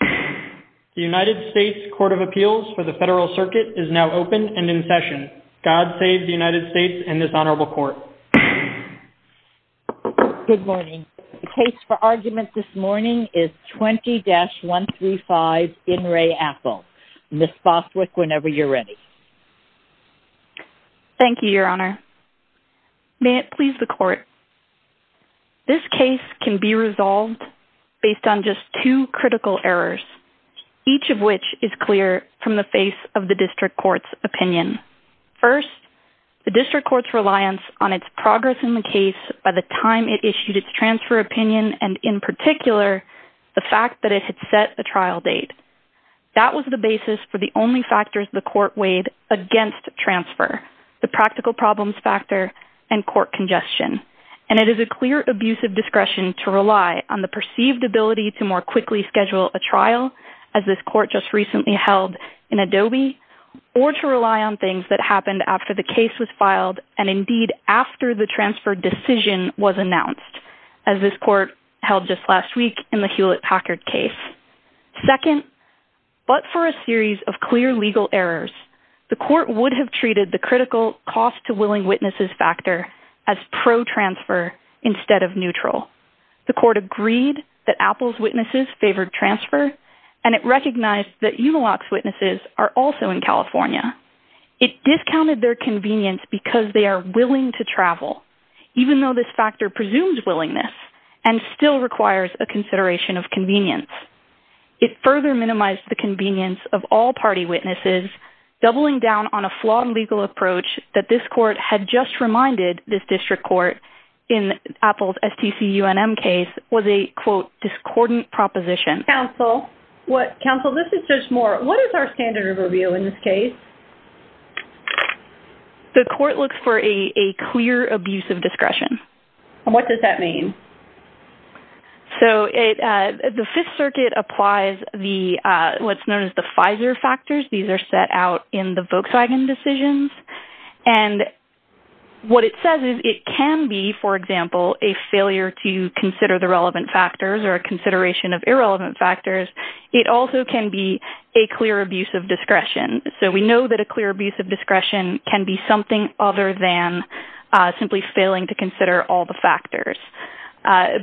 The United States Court of Appeals for the Federal Circuit is now open and in session. God save the United States and this Honorable Court. Good morning. The case for argument this morning is 20-135 In Re Apple. Ms. Boswick, whenever you're ready. Thank you, Your Honor. May it please the Court. This case can be resolved based on just two critical errors, each of which is clear from the face of the District Court's opinion. First, the District Court's reliance on its progress in the case by the time it issued its transfer opinion and, in particular, the fact that it had set a trial date. That was the basis for the only factors the Court weighed against transfer, the practical problems factor and court congestion. And it is a clear abuse of discretion to rely on the perceived ability to more quickly schedule a trial, as this Court just recently held in Adobe, or to rely on things that happened after the case was filed and, indeed, after the transfer decision was announced, as this Court held just last week in the Hewlett-Packard case. Second, but for a series of clear legal errors, the Court would have treated the critical cost-to-willing-witnesses factor as pro-transfer instead of neutral. The Court agreed that Apple's witnesses favored transfer, and it recognized that Umilok's witnesses are also in California. It discounted their convenience because they are willing to travel, even though this factor presumes willingness and still requires a consideration of convenience. It further minimized the convenience of all party witnesses doubling down on a flawed legal approach that this Court had just reminded this district court in Apple's STC-UNM case was a, quote, discordant proposition. Counsel, this is Judge Moore. What is our standard of review in this case? The Court looks for a clear abuse of discretion. And what does that mean? So the Fifth Circuit applies what's known as the FISER factors. These are set out in the Volkswagen decisions. And what it says is it can be, for example, a failure to consider the relevant factors or a consideration of irrelevant factors. It also can be a clear abuse of discretion. So we know that a clear abuse of discretion can be something other than simply failing to consider all the factors.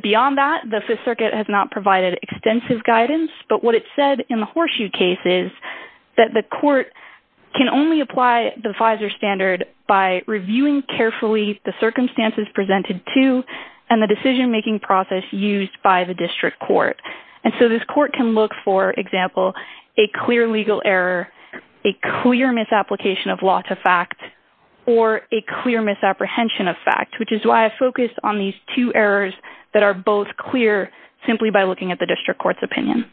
Beyond that, the Fifth Circuit has not provided extensive guidance, but what it said in the Horseshoe case is that the Court can only apply the FISER standard by reviewing carefully the circumstances presented to and the decision-making process used by the district court. And so this Court can look, for example, a clear legal error, a clear misapplication of law to fact, or a clear misapprehension of fact, which is why I focused on these two errors that are both clear simply by looking at the district court's opinion.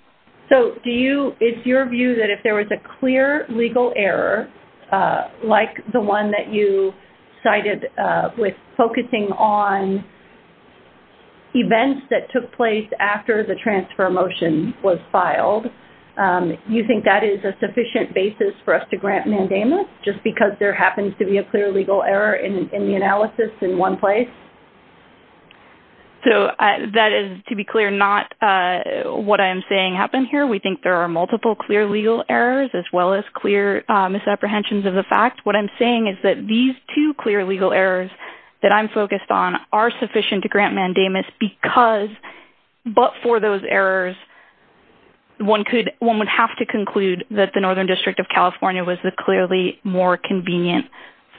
So do you – is your view that if there was a clear legal error, like the one that you cited with focusing on events that took place after the transfer motion was filed, you think that is a sufficient basis for us to grant mandamus just because there happens to be a clear legal error in the analysis in one place? So that is, to be clear, not what I am saying happened here. We think there are multiple clear legal errors as well as clear misapprehensions of the fact. What I'm saying is that these two clear legal errors that I'm focused on are sufficient to grant mandamus because – but for those errors, one would have to conclude that the Northern District of California was the clearly more convenient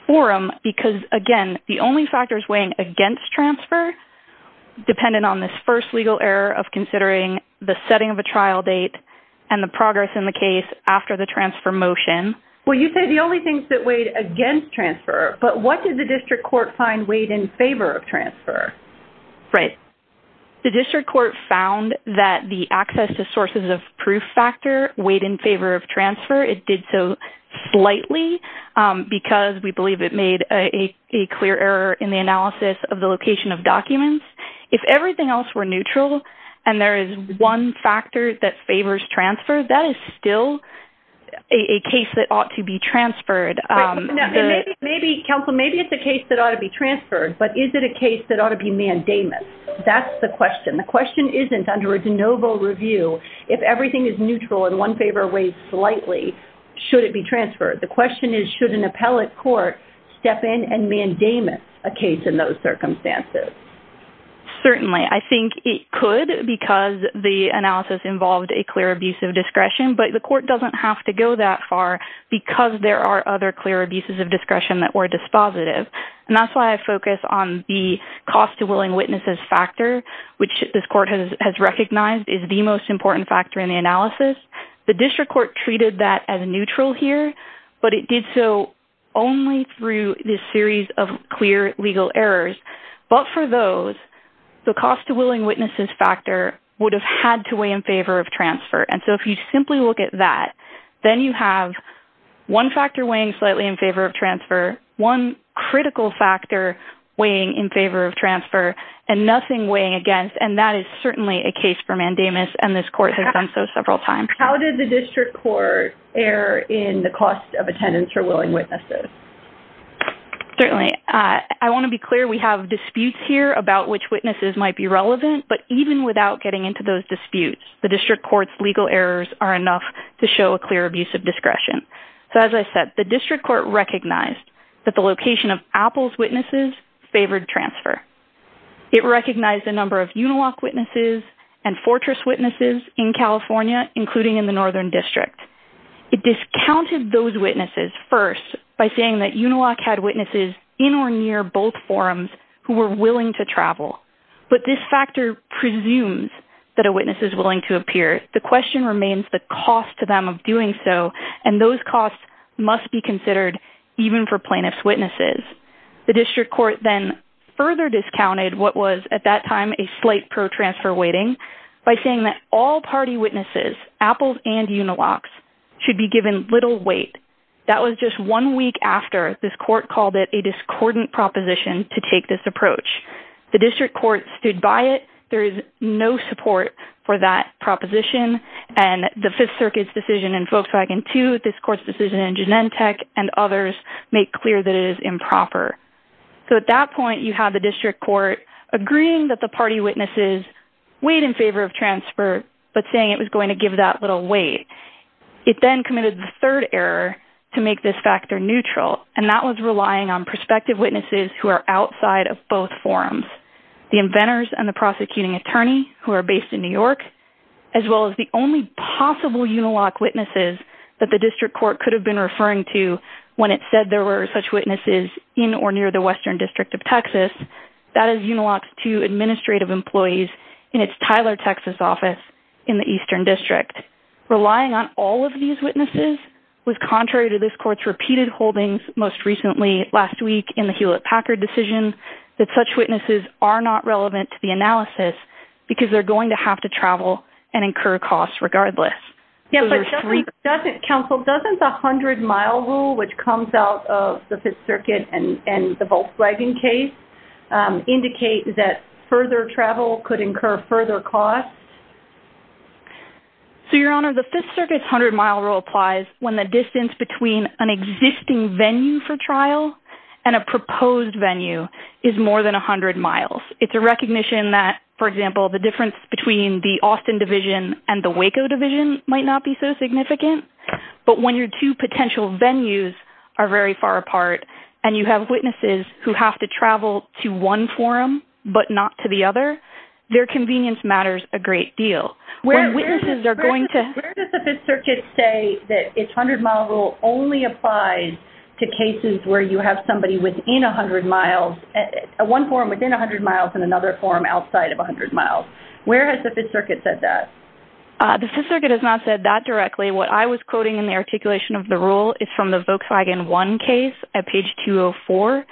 forum because, again, the only factors weighing against transfer, dependent on this first legal error of considering the setting of a trial date and the progress in the case after the transfer motion. Well, you said the only things that weighed against transfer, but what did the district court find weighed in favor of transfer? Right. The district court found that the access to sources of proof factor weighed in favor of transfer. It did so slightly because we believe it made a clear error in the analysis of the location of documents. If everything else were neutral and there is one factor that favors transfer, that is still a case that ought to be transferred. Maybe it's a case that ought to be transferred, but is it a case that ought to be mandamus? That's the question. The question isn't under a de novo review if everything is neutral and one favor weighs slightly, should it be transferred? The question is should an appellate court step in and mandamus a case in those circumstances? Certainly. I think it could because the analysis involved a clear abuse of discretion, but the court doesn't have to go that far because there are other clear abuses of discretion that were dispositive. That's why I focus on the cost to willing witnesses factor, which this court has recognized is the most important factor in the analysis. The district court treated that as neutral here, but it did so only through this series of clear legal errors. But for those, the cost to willing witnesses factor would have had to weigh in favor of transfer. So if you simply look at that, then you have one factor weighing slightly in favor of transfer, one critical factor weighing in favor of transfer, and nothing weighing against, and that is certainly a case for mandamus, and this court has done so several times. How did the district court err in the cost of attendance for willing witnesses? Certainly. I want to be clear we have disputes here about which witnesses might be relevant, but even without getting into those disputes, the district court's legal errors are enough to show a clear abuse of discretion. So as I said, the district court recognized that the location of Apple's witnesses favored transfer. It recognized a number of Uniloc witnesses and Fortress witnesses in California, including in the Northern District. It discounted those witnesses first by saying that Uniloc had witnesses in or near both forums who were willing to travel, but this factor presumes that a witness is willing to appear. The question remains the cost to them of doing so, and those costs must be considered even for plaintiff's witnesses. The district court then further discounted what was at that time a slight pro-transfer weighting by saying that all party witnesses, Apple's and Uniloc's, should be given little weight. That was just one week after this court called it a discordant proposition to take this approach. The district court stood by it. There is no support for that proposition, and the Fifth Circuit's decision in Volkswagen II, this court's decision in Genentech, and others make clear that it is improper. So at that point you have the district court agreeing that the party witnesses weighed in favor of transfer but saying it was going to give that little weight. It then committed the third error to make this factor neutral, and that was relying on prospective witnesses who are outside of both forums, the inventors and the prosecuting attorney who are based in New York, as well as the only possible Uniloc witnesses that the district court could have been referring to when it said there were such witnesses in or near the Western District of Texas. That is Uniloc's two administrative employees in its Tyler, Texas office in the Eastern District. Relying on all of these witnesses was contrary to this court's repeated holdings, most recently last week in the Hewlett-Packard decision, that such witnesses are not relevant to the analysis because they're going to have to travel and incur costs regardless. Counsel, doesn't the 100-mile rule, which comes out of the Fifth Circuit and the Volkswagen case, indicate that further travel could incur further costs? Your Honor, the Fifth Circuit's 100-mile rule applies when the distance between an existing venue for trial and a proposed venue is more than 100 miles. It's a recognition that, for example, the difference between the Austin division and the Waco division might not be so significant, but when your two potential venues are very far apart and you have witnesses who have to travel to one forum but not to the other, their convenience matters a great deal. When witnesses are going to... Where does the Fifth Circuit say that its 100-mile rule only applies to cases where you have somebody within 100 miles, one forum within 100 miles and another forum outside of 100 miles? Where has the Fifth Circuit said that? The Fifth Circuit has not said that directly. What I was quoting in the articulation of the rule is from the Volkswagen 1 case at page 204.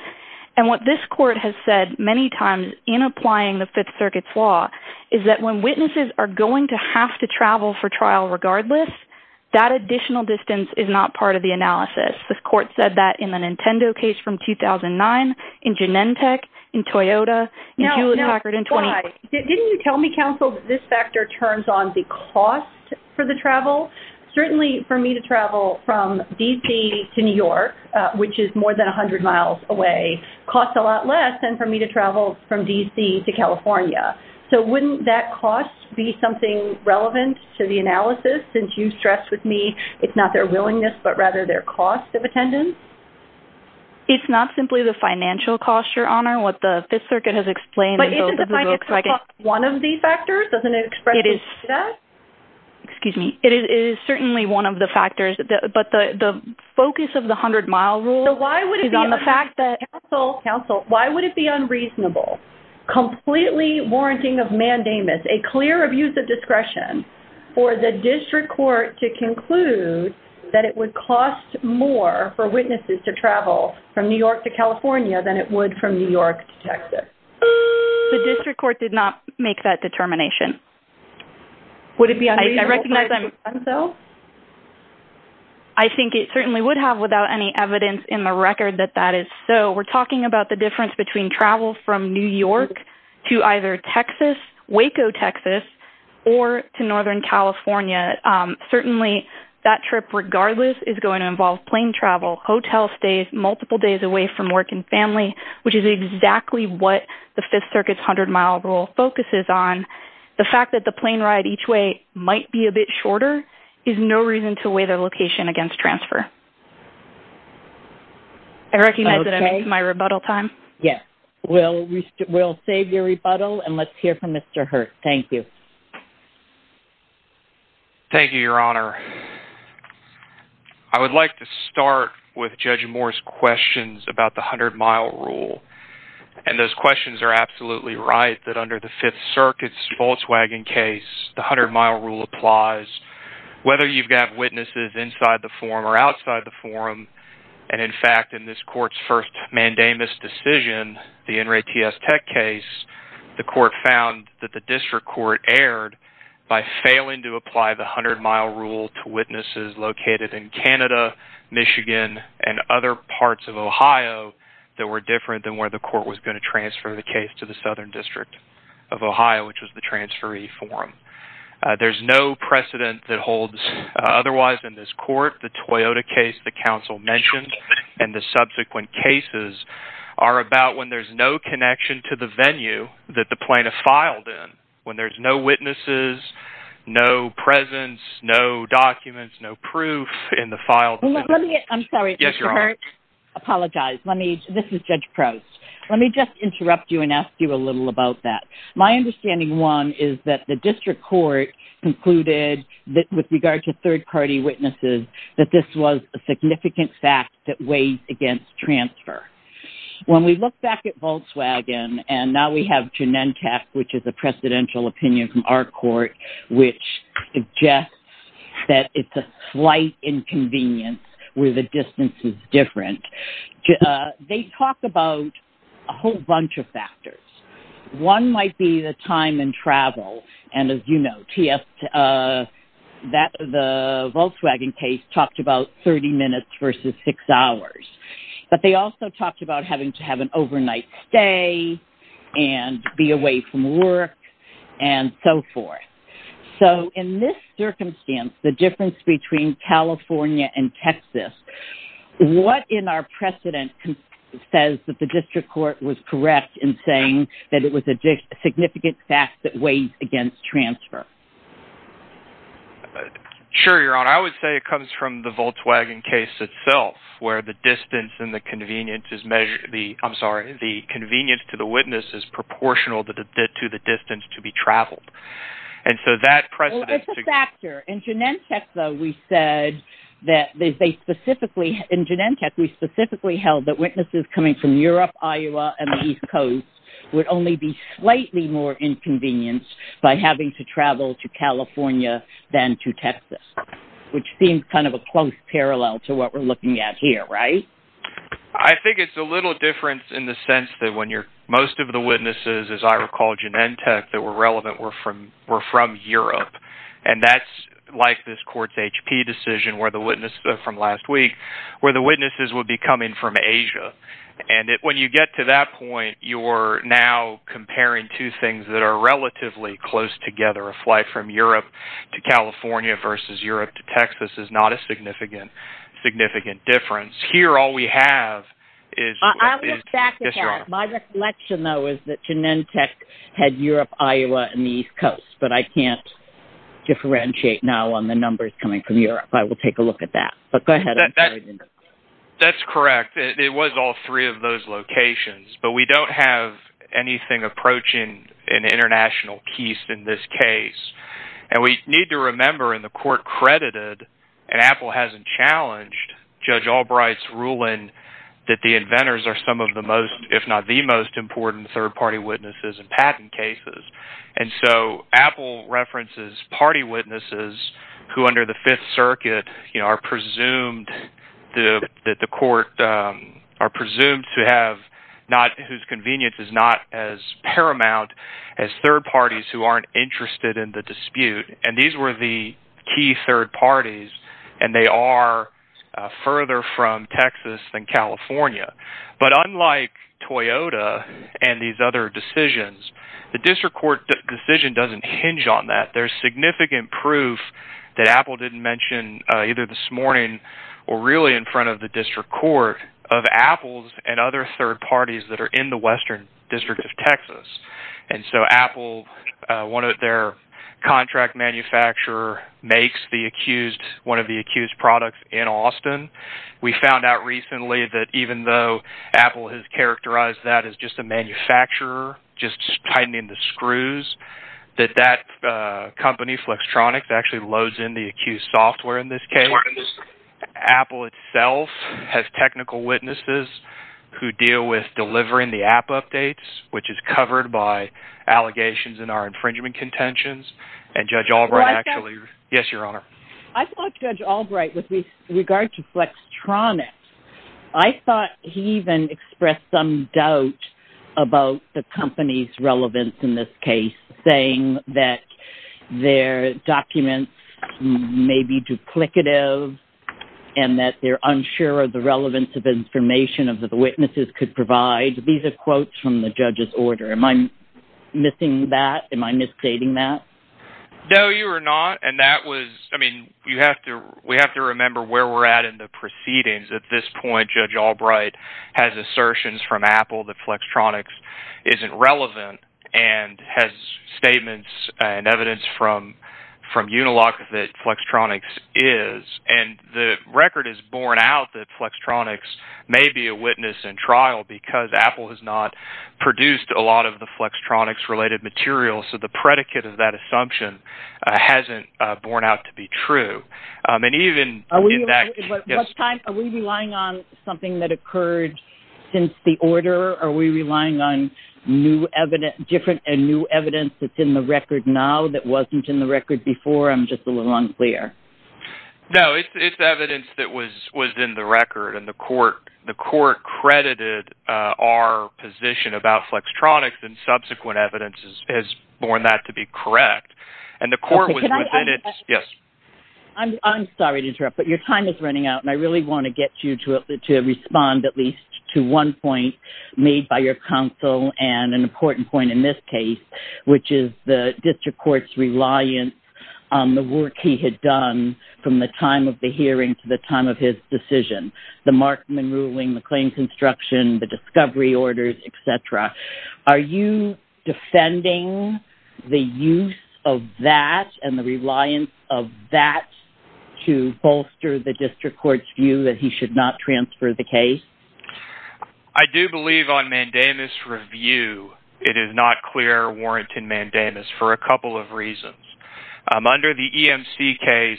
And what this court has said many times in applying the Fifth Circuit's law is that when witnesses are going to have to travel for trial regardless, that additional distance is not part of the analysis. The court said that in the Nintendo case from 2009, in Genentech, in Toyota, in Julie Packard... Now, why? Didn't you tell me, counsel, that this factor turns on the cost for the travel? Certainly for me to travel from D.C. to New York, which is more than 100 miles away, costs a lot less than for me to travel from D.C. to California. So wouldn't that cost be something relevant to the analysis since you stressed with me it's not their willingness but rather their cost of attendance? It's not simply the financial cost, Your Honor. What the Fifth Circuit has explained... But isn't the financial cost one of the factors? Doesn't it express itself like that? Excuse me. It is certainly one of the factors. But the focus of the 100-mile rule is on the fact that... So why would it be unreasonable, counsel, why would it be unreasonable, completely warranting of mandamus, a clear abuse of discretion, for the district court to conclude that it would cost more for witnesses to travel from New York to California than it would from New York to Texas? The district court did not make that determination. Would it be unreasonable, counsel? I think it certainly would have without any evidence in the record that that is so. We're talking about the difference between travel from New York to either Texas, Waco, Texas, or to Northern California. Certainly that trip, regardless, is going to involve plane travel, hotel stays multiple days away from work and family, which is exactly what the Fifth Circuit's 100-mile rule focuses on. The fact that the plane ride each way might be a bit shorter is no reason to weigh the location against transfer. I recognize that I missed my rebuttal time. Yes. We'll save your rebuttal, and let's hear from Mr. Hurte. Thank you. Thank you, Your Honor. I would like to start with Judge Moore's questions about the 100-mile rule. And those questions are absolutely right, that under the Fifth Circuit's Volkswagen case, the 100-mile rule applies whether you have witnesses inside the forum or outside the forum. And, in fact, in this court's first mandamus decision, the NRATS Tech case, the court found that the district court erred by failing to apply the 100-mile rule to witnesses located in Canada, Michigan, and other parts of Ohio that were different than where the court was going to transfer the case to the Southern District of Ohio, which was the transferee forum. There's no precedent that holds otherwise in this court. The Toyota case the counsel mentioned and the subsequent cases are about when there's no connection to the venue that the plane is filed in, when there's no witnesses, no presence, no documents, no proof in the file. I'm sorry. Yes, Your Honor. Apologize. This is Judge Crouse. Let me just interrupt you and ask you a little about that. My understanding, one, is that the district court concluded with regard to third-party witnesses that this was a significant fact that weighed against transfer. When we look back at Volkswagen, and now we have Genentech, which is a precedential opinion from our court, which suggests that it's a slight inconvenience where the distance is different, they talk about a whole bunch of factors. One might be the time and travel, and, as you know, the Volkswagen case talked about 30 minutes versus 6 hours. But they also talked about having to have an overnight stay and be away from work and so forth. So in this circumstance, the difference between California and Texas, what in our precedent says that the district court was correct in saying that it was a significant fact that weighed against transfer? Sure, Your Honor. I would say it comes from the Volkswagen case itself where the distance and the convenience is measured. I'm sorry. The convenience to the witness is proportional to the distance to be traveled. And so that precedent... Well, it's a factor. In Genentech, though, we said that they specifically... In Genentech, we specifically held that witnesses coming from Europe, Iowa, and the East Coast would only be slightly more inconvenienced by having to travel to California than to Texas, which seems kind of a close parallel to what we're looking at here, right? I think it's a little different in the sense that when you're... Most of the witnesses, as I recall, Genentech, that were relevant were from Europe. And that's like this court's HP decision where the witness from last week... where the witnesses would be coming from Asia. And when you get to that point, you're now comparing two things that are relatively close together. A flight from Europe to California versus Europe to Texas is not a significant, significant difference. Here, all we have is... I'll get back to that. Yes, Your Honor. My reflection, though, is that Genentech had Europe, Iowa, and the East Coast, but I can't differentiate now on the numbers coming from Europe. I will take a look at that. But go ahead. That's correct. It was all three of those locations. But we don't have anything approaching an international case in this case. And we need to remember in the court credited, and Apple hasn't challenged, Judge Albright's ruling that the inventors are some of the most, if not the most, important third-party witnesses in patent cases. And so Apple references party witnesses who, under the Fifth Circuit, are presumed that the court... are presumed to have... whose convenience is not as paramount as third parties who aren't interested in the dispute. And these were the key third parties, and they are further from Texas than California. But unlike Toyota and these other decisions, the district court decision doesn't hinge on that. There's significant proof that Apple didn't mention either this morning or really in front of the district court of Apple's and other third parties that are in the Western District of Texas. And so Apple, one of their contract manufacturers, makes the accused... one of the accused products in Austin. We found out recently that even though Apple has characterized that as just a manufacturer just tightening the screws, that that company, Flextronics, actually loads in the accused software in this case. Apple itself has technical witnesses who deal with delivering the app updates, which is covered by allegations in our infringement contentions. And Judge Albright actually... Yes, Your Honor. I thought Judge Albright, with regard to Flextronics, I thought he even expressed some doubt about the company's relevance in this case, saying that their documents may be duplicative and that they're unsure of the relevance of information that the witnesses could provide. These are quotes from the judge's order. Am I missing that? No, you are not. And that was... I mean, you have to... We have to remember where we're at in the proceedings. At this point, Judge Albright has assertions from Apple that Flextronics isn't relevant and has statements and evidence from Unilock that Flextronics is. And the record is borne out that Flextronics may be a witness in trial because Apple has not produced a lot of the Flextronics-related materials so the predicate of that assumption hasn't borne out to be true. Are we relying on something that occurred since the order? Are we relying on different and new evidence that's in the record now that wasn't in the record before? I'm just a little unclear. No, it's evidence that was in the record and the court credited our position about Flextronics and subsequent evidence has borne that to be correct. And the court was within its... Yes? I'm sorry to interrupt, but your time is running out and I really want to get you to respond at least to one point made by your counsel and an important point in this case, which is the district court's reliance on the work he had done from the time of the hearing to the time of his decision, the Markman ruling, the claim construction, the discovery orders, et cetera. Are you defending the use of that and the reliance of that to bolster the district court's view that he should not transfer the case? I do believe on mandamus review it is not clear warrant in mandamus for a couple of reasons. Under the EMC case,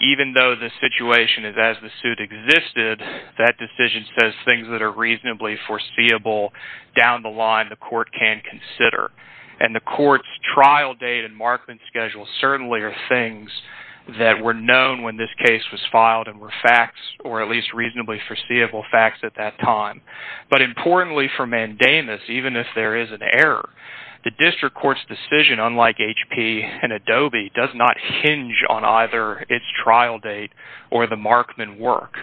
even though the situation is as the suit existed, that decision says things that are reasonably foreseeable down the line the court can consider. And the court's trial date and Markman schedule certainly are things that were known when this case was filed and were facts or at least reasonably foreseeable facts at that time. But importantly for mandamus, even if there is an error, the district court's decision, unlike HP and Adobe, does not hinge on either its trial date or the Markman work.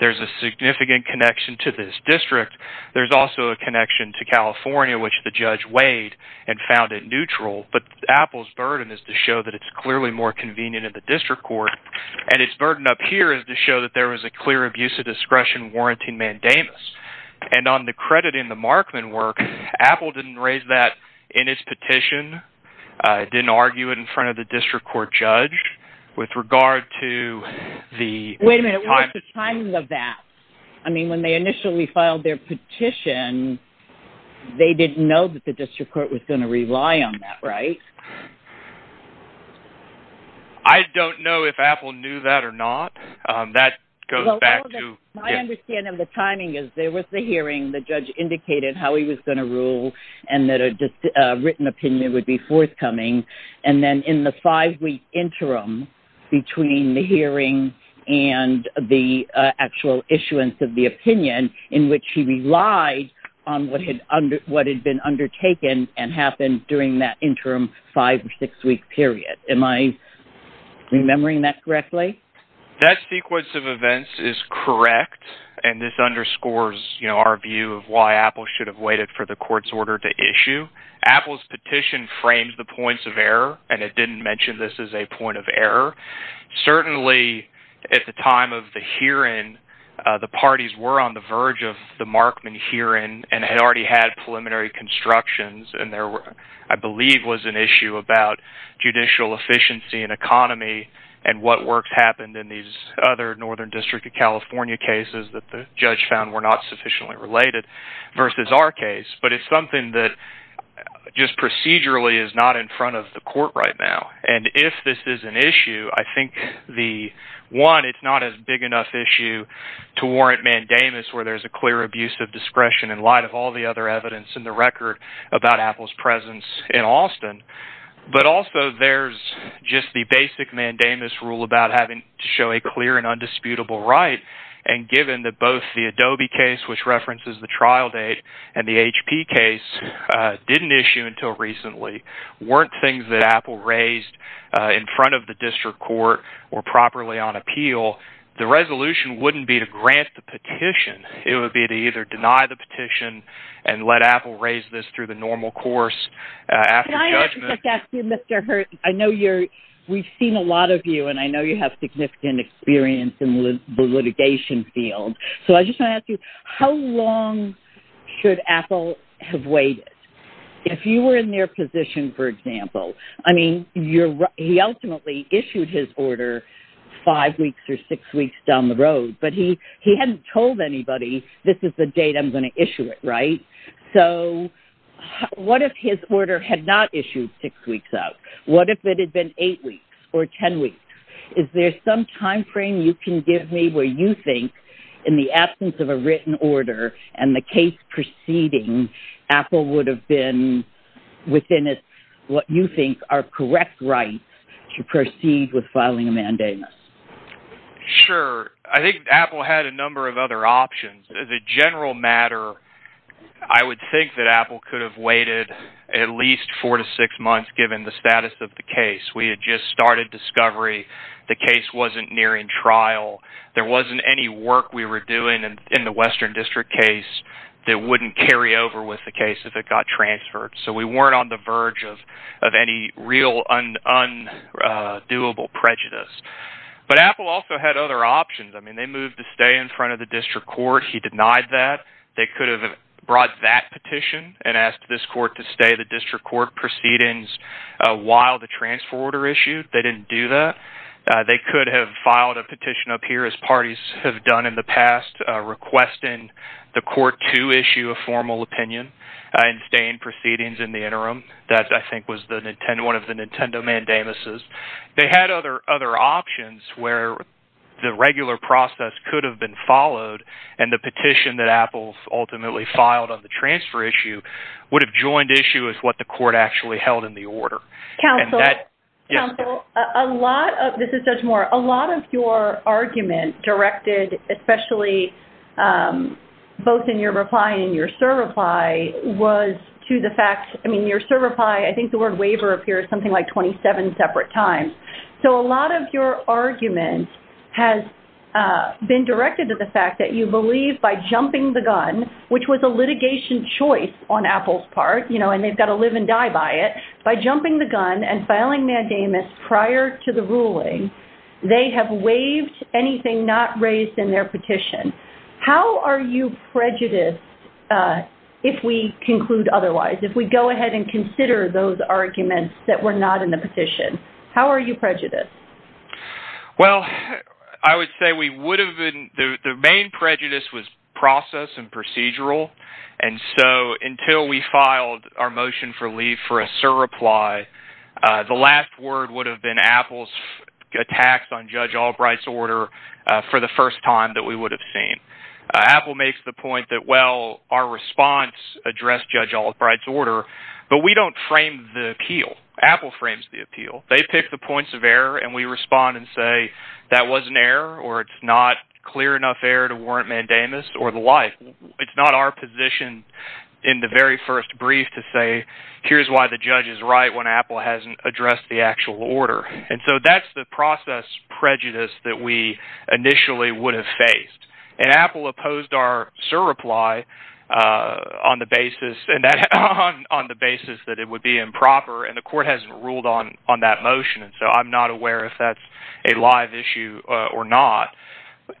There's a significant connection to this district. There's also a connection to California, which the judge weighed and found it neutral. But Apple's burden is to show that it's clearly more convenient at the district court. And its burden up here is to show that there was a clear abuse of discretion warranting mandamus. And on the credit in the Markman work, Apple didn't raise that in its petition, didn't argue it in front of the district court judge with regard to the... Wait a minute, what's the timing of that? I mean, when they initially filed their petition, they didn't know that the district court was going to rely on that, right? I don't know if Apple knew that or not. That goes back to... My understanding of the timing is there was the hearing, the judge indicated how he was going to rule and that a written opinion would be forthcoming. And then in the five-week interim between the hearing and the actual issuance of the opinion in which he relied on what had been undertaken and happened during that interim five- or six-week period. Am I remembering that correctly? That sequence of events is correct. And this underscores, you know, our view of why Apple should have waited for the court's order to issue. Apple's petition frames the points of error, and it didn't mention this as a point of error. Certainly, at the time of the hearing, the parties were on the verge of the Markman hearing and had already had preliminary constructions, and there, I believe, was an issue about judicial efficiency and economy and what works happened in these other northern district of California cases that the judge found were not sufficiently related versus our case. But it's something that just procedurally is not in front of the court right now. And if this is an issue, I think the... One, it's not a big enough issue to warrant mandamus, where there's a clear abuse of discretion in light of all the other evidence in the record about Apple's presence in Austin. But also, there's just the basic mandamus rule about having to show a clear and undisputable right, and given that both the Adobe case, which references the trial date, and the HP case didn't issue until recently weren't things that Apple raised in front of the district court or properly on appeal, the resolution wouldn't be to grant the petition. It would be to either deny the petition and let Apple raise this through the normal course after judgment... Can I just ask you, Mr. Hurton? I know you're... We've seen a lot of you, and I know you have significant experience in the litigation field. So I just want to ask you, how long should Apple have waited? If you were in their position, for example, I mean, he ultimately issued his order five weeks or six weeks down the road, but he hadn't told anybody, this is the date I'm going to issue it, right? So what if his order had not issued six weeks out? What if it had been eight weeks or ten weeks? Is there some timeframe you can give me where you think, in the absence of a written order and the case proceeding, Apple would have been within, what you think, our correct right to proceed with filing a mandamus? Sure. I think Apple had a number of other options. As a general matter, I would think that Apple could have waited at least four to six months, given the status of the case. We had just started discovery. The case wasn't nearing trial. There wasn't any work we were doing in the Western District case that wouldn't carry over with the case if it got transferred. So we weren't on the verge of any real undoable prejudice. But Apple also had other options. I mean, they moved to stay in front of the district court. He denied that. They could have brought that petition and asked this court to stay the district court proceedings while the transfer order issued. They didn't do that. They could have filed a petition up here, as parties have done in the past, requesting the court to issue a formal opinion and stay in proceedings in the interim. That, I think, was one of the Nintendo mandamuses. They had other options where the regular process could have been followed and the petition that Apple ultimately filed on the transfer issue would have joined issue with what the court actually held in the order. Counsel, a lot of... This is Judge Moore. A lot of your argument directed, especially both in your reply and your cert reply, was to the fact... I mean, your cert reply, I think the word waiver appears something like 27 separate times. So a lot of your argument has been directed to the fact that you believe by jumping the gun, which was a litigation choice on Apple's part, you know, and they've got to live and die by it, by jumping the gun and filing mandamus prior to the ruling, they have waived anything not raised in their petition. How are you prejudiced, if we conclude otherwise, if we go ahead and consider those arguments that were not in the petition? How are you prejudiced? Well, I would say we would have been... The main prejudice was process and procedural. And so until we filed our motion for leave for a cert reply, the last word would have been Apple's attacks on Judge Albright's order for the first time that we would have seen. Apple makes the point that, well, our response addressed Judge Albright's order, but we don't frame the appeal. Apple frames the appeal. They pick the points of error, and we respond and say, that was an error, or it's not clear enough error to warrant mandamus, or the like. It's not our position in the very first brief to say, here's why the judge is right when Apple hasn't addressed the actual order. And so that's the process prejudice that we initially would have faced. And Apple opposed our cert reply on the basis that it would be improper, and the court hasn't ruled on that motion, and so I'm not aware if that's a live issue or not.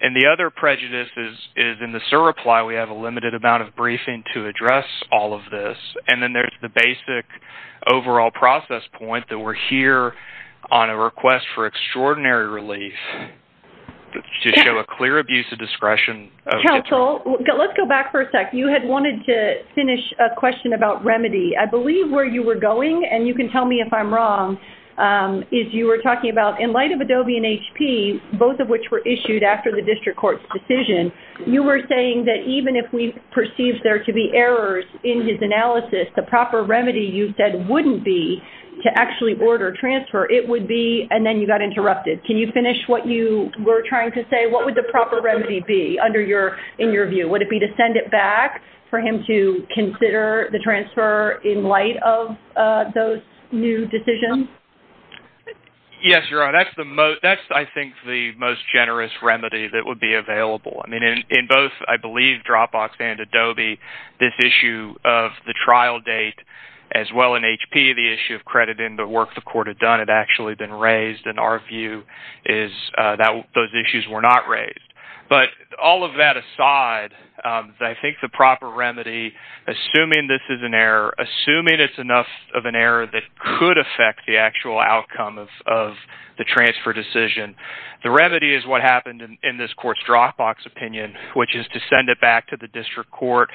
And the other prejudice is, in the cert reply, we have a limited amount of briefing to address all of this. And then there's the basic overall process point that we're here on a request for extraordinary relief to show a clear abuse of discretion. Counsel, let's go back for a sec. You had wanted to finish a question about remedy. I believe where you were going, and you can tell me if I'm wrong, is you were talking about, in light of Adobe and HP, both of which were issued after the district court's decision, you were saying that even if we perceived there to be errors in his analysis, the proper remedy you said wouldn't be to actually order transfer, it would be, and then you got interrupted. Can you finish what you were trying to say? What would the proper remedy be in your view? Would it be to send it back for him to consider the transfer in light of those new decisions? Yes, Your Honor, that's, I think, the most generous remedy that would be available. I mean, in both, I believe, Dropbox and Adobe, this issue of the trial date, as well in HP, the issue of crediting the work the court had done had actually been raised, and our view is those issues were not raised. But all of that aside, I think the proper remedy, assuming this is an error, that could affect the actual outcome of the transfer decision, the remedy is what happened in this court's Dropbox opinion, which is to send it back to the district court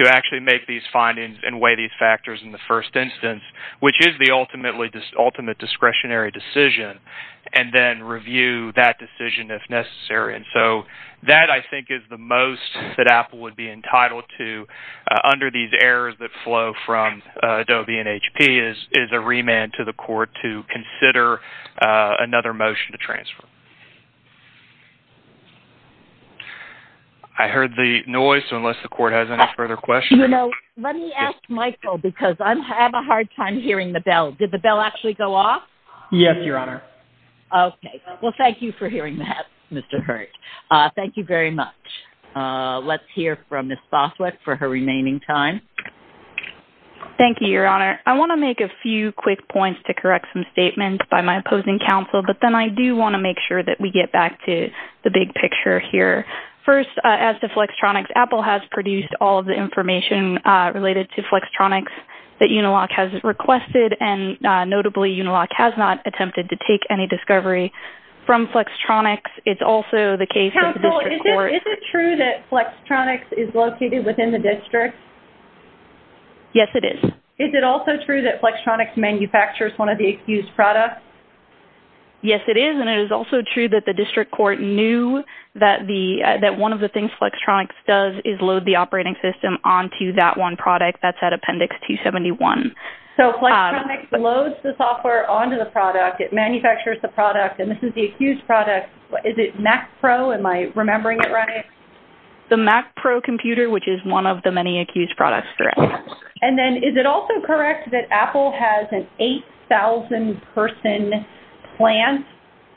to actually make these findings and weigh these factors in the first instance, which is the ultimate discretionary decision, and then review that decision if necessary. And so that, I think, is the most that Apple would be entitled to under these errors that flow from Adobe and HP is a remand to the court to consider another motion to transfer. I heard the noise, so unless the court has any further questions. You know, let me ask Michael, because I'm having a hard time hearing the bell. Did the bell actually go off? Yes, Your Honor. Okay. Well, thank you for hearing that, Mr. Hurt. Thank you very much. Let's hear from Ms. Foswick for her remaining time. Thank you, Your Honor. I want to make a few quick points to correct some statements by my opposing counsel, but then I do want to make sure that we get back to the big picture here. First, as to Flextronics, Apple has produced all of the information related to Flextronics that Unilock has requested, and notably Unilock has not attempted to take any discovery from Flextronics. Counsel, is it true that Flextronics is located within the district? Yes, it is. Is it also true that Flextronics manufactures one of the accused products? Yes, it is, and it is also true that the district court knew that one of the things Flextronics does is load the operating system onto that one product. That's at Appendix 271. So, Flextronics loads the software onto the product. It manufactures the product, and this is the accused product. Is it Mac Pro? Am I remembering it right? The Mac Pro computer, which is one of the many accused products throughout. And then, is it also correct that Apple has an 8,000-person plant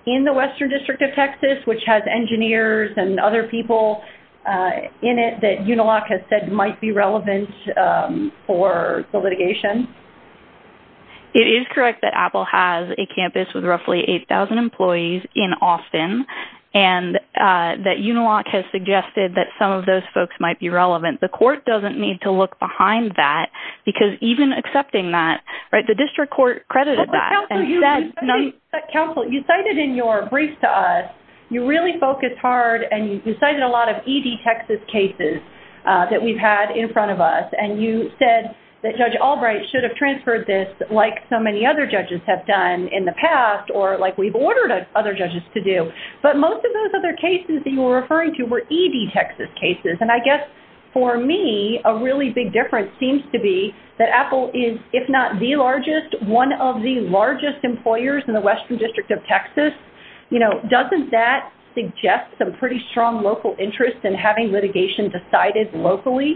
in the Western District of Texas, which has engineers and other people in it that Unilock has said might be relevant for the litigation? It is correct that Apple has a campus with roughly 8,000 employees in Austin and that Unilock has suggested that some of those folks might be relevant. The court doesn't need to look behind that because even accepting that, the district court credited that. Counsel, you cited in your brief to us, you really focused hard, and you cited a lot of ED Texas cases that we've had in front of us, and you said that Judge Albright should have transferred this like so many other judges have done in the past or like we've ordered other judges to do. But most of those other cases that you were referring to were ED Texas cases. And I guess, for me, a really big difference seems to be that Apple is, if not the largest, one of the largest employers in the Western District of Texas. Doesn't that suggest some pretty strong local interest in having litigation decided locally?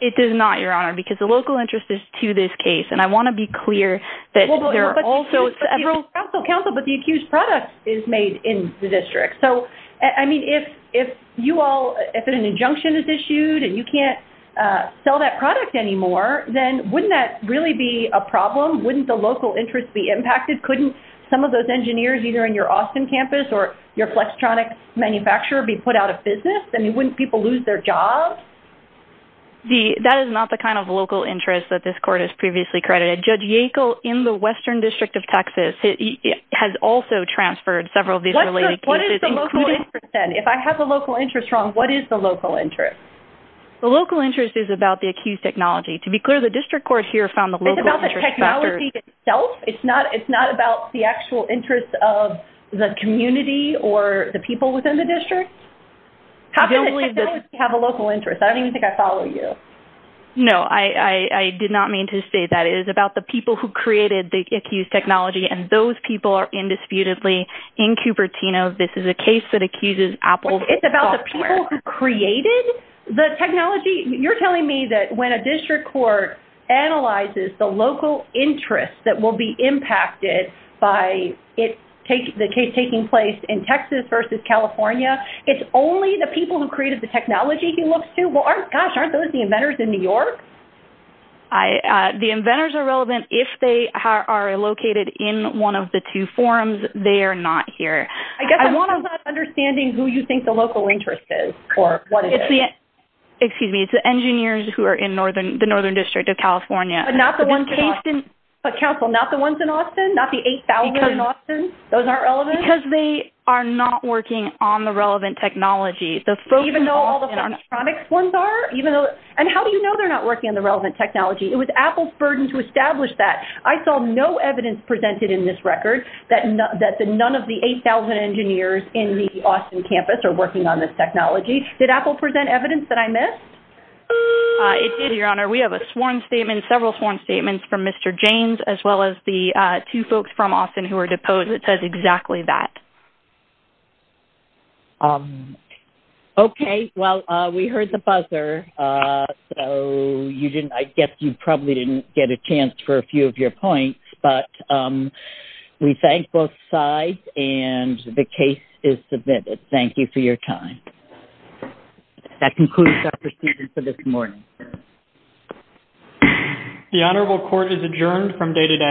It does not, Your Honor, because the local interest is to this case. And I want to be clear that there are also several... Counsel, but the accused product is made in the district. So, I mean, if you all, if an injunction is issued and you can't sell that product anymore, then wouldn't that really be a problem? Wouldn't the local interest be impacted? Couldn't some of those engineers either in your Austin campus or your Flextronic manufacturer be put out of business? I mean, wouldn't people lose their jobs? That is not the kind of local interest that this court has previously credited. Judge Yackel, in the Western District of Texas, has also transferred several of these related cases. What is the local interest then? If I have a local interest wrong, what is the local interest? The local interest is about the accused technology. To be clear, the district court here found the local... It's about the technology itself? It's not about the actual interest of the community or the people within the district? How can the technology have a local interest? I don't even think I follow you. No, I did not mean to say that. It is about the people who created the accused technology, and those people are indisputably in Cupertino. This is a case that accuses Apple software. It's about the people who created the technology? You're telling me that when a district court analyzes the local interest that will be impacted by the case taking place in Texas versus California, it's only the people who created the technology he looks to? Gosh, aren't those the inventors in New York? The inventors are relevant if they are located in one of the two forums. They are not here. I guess I'm wondering about understanding who you think the local interest is or what it is. Excuse me. It's the engineers who are in the Northern District of California. But not the ones in Austin? Not the 8,000 in Austin? Those aren't relevant? Because they are not working on the relevant technology. Even though all the electronics ones are? And how do you know they're not working on the relevant technology? It was Apple's burden to establish that. I saw no evidence presented in this record that none of the 8,000 engineers in the Austin campus are working on this technology. Did Apple present evidence that I missed? It did, Your Honor. We have a sworn statement, several sworn statements from Mr. James as well as the two folks from Austin who were deposed and it says exactly that. Okay. Well, we heard the buzzer, so I guess you probably didn't get a chance for a few of your points. But we thank both sides and the case is submitted. Thank you for your time. That concludes our proceedings for this morning. The Honorable Court is adjourned from day to day.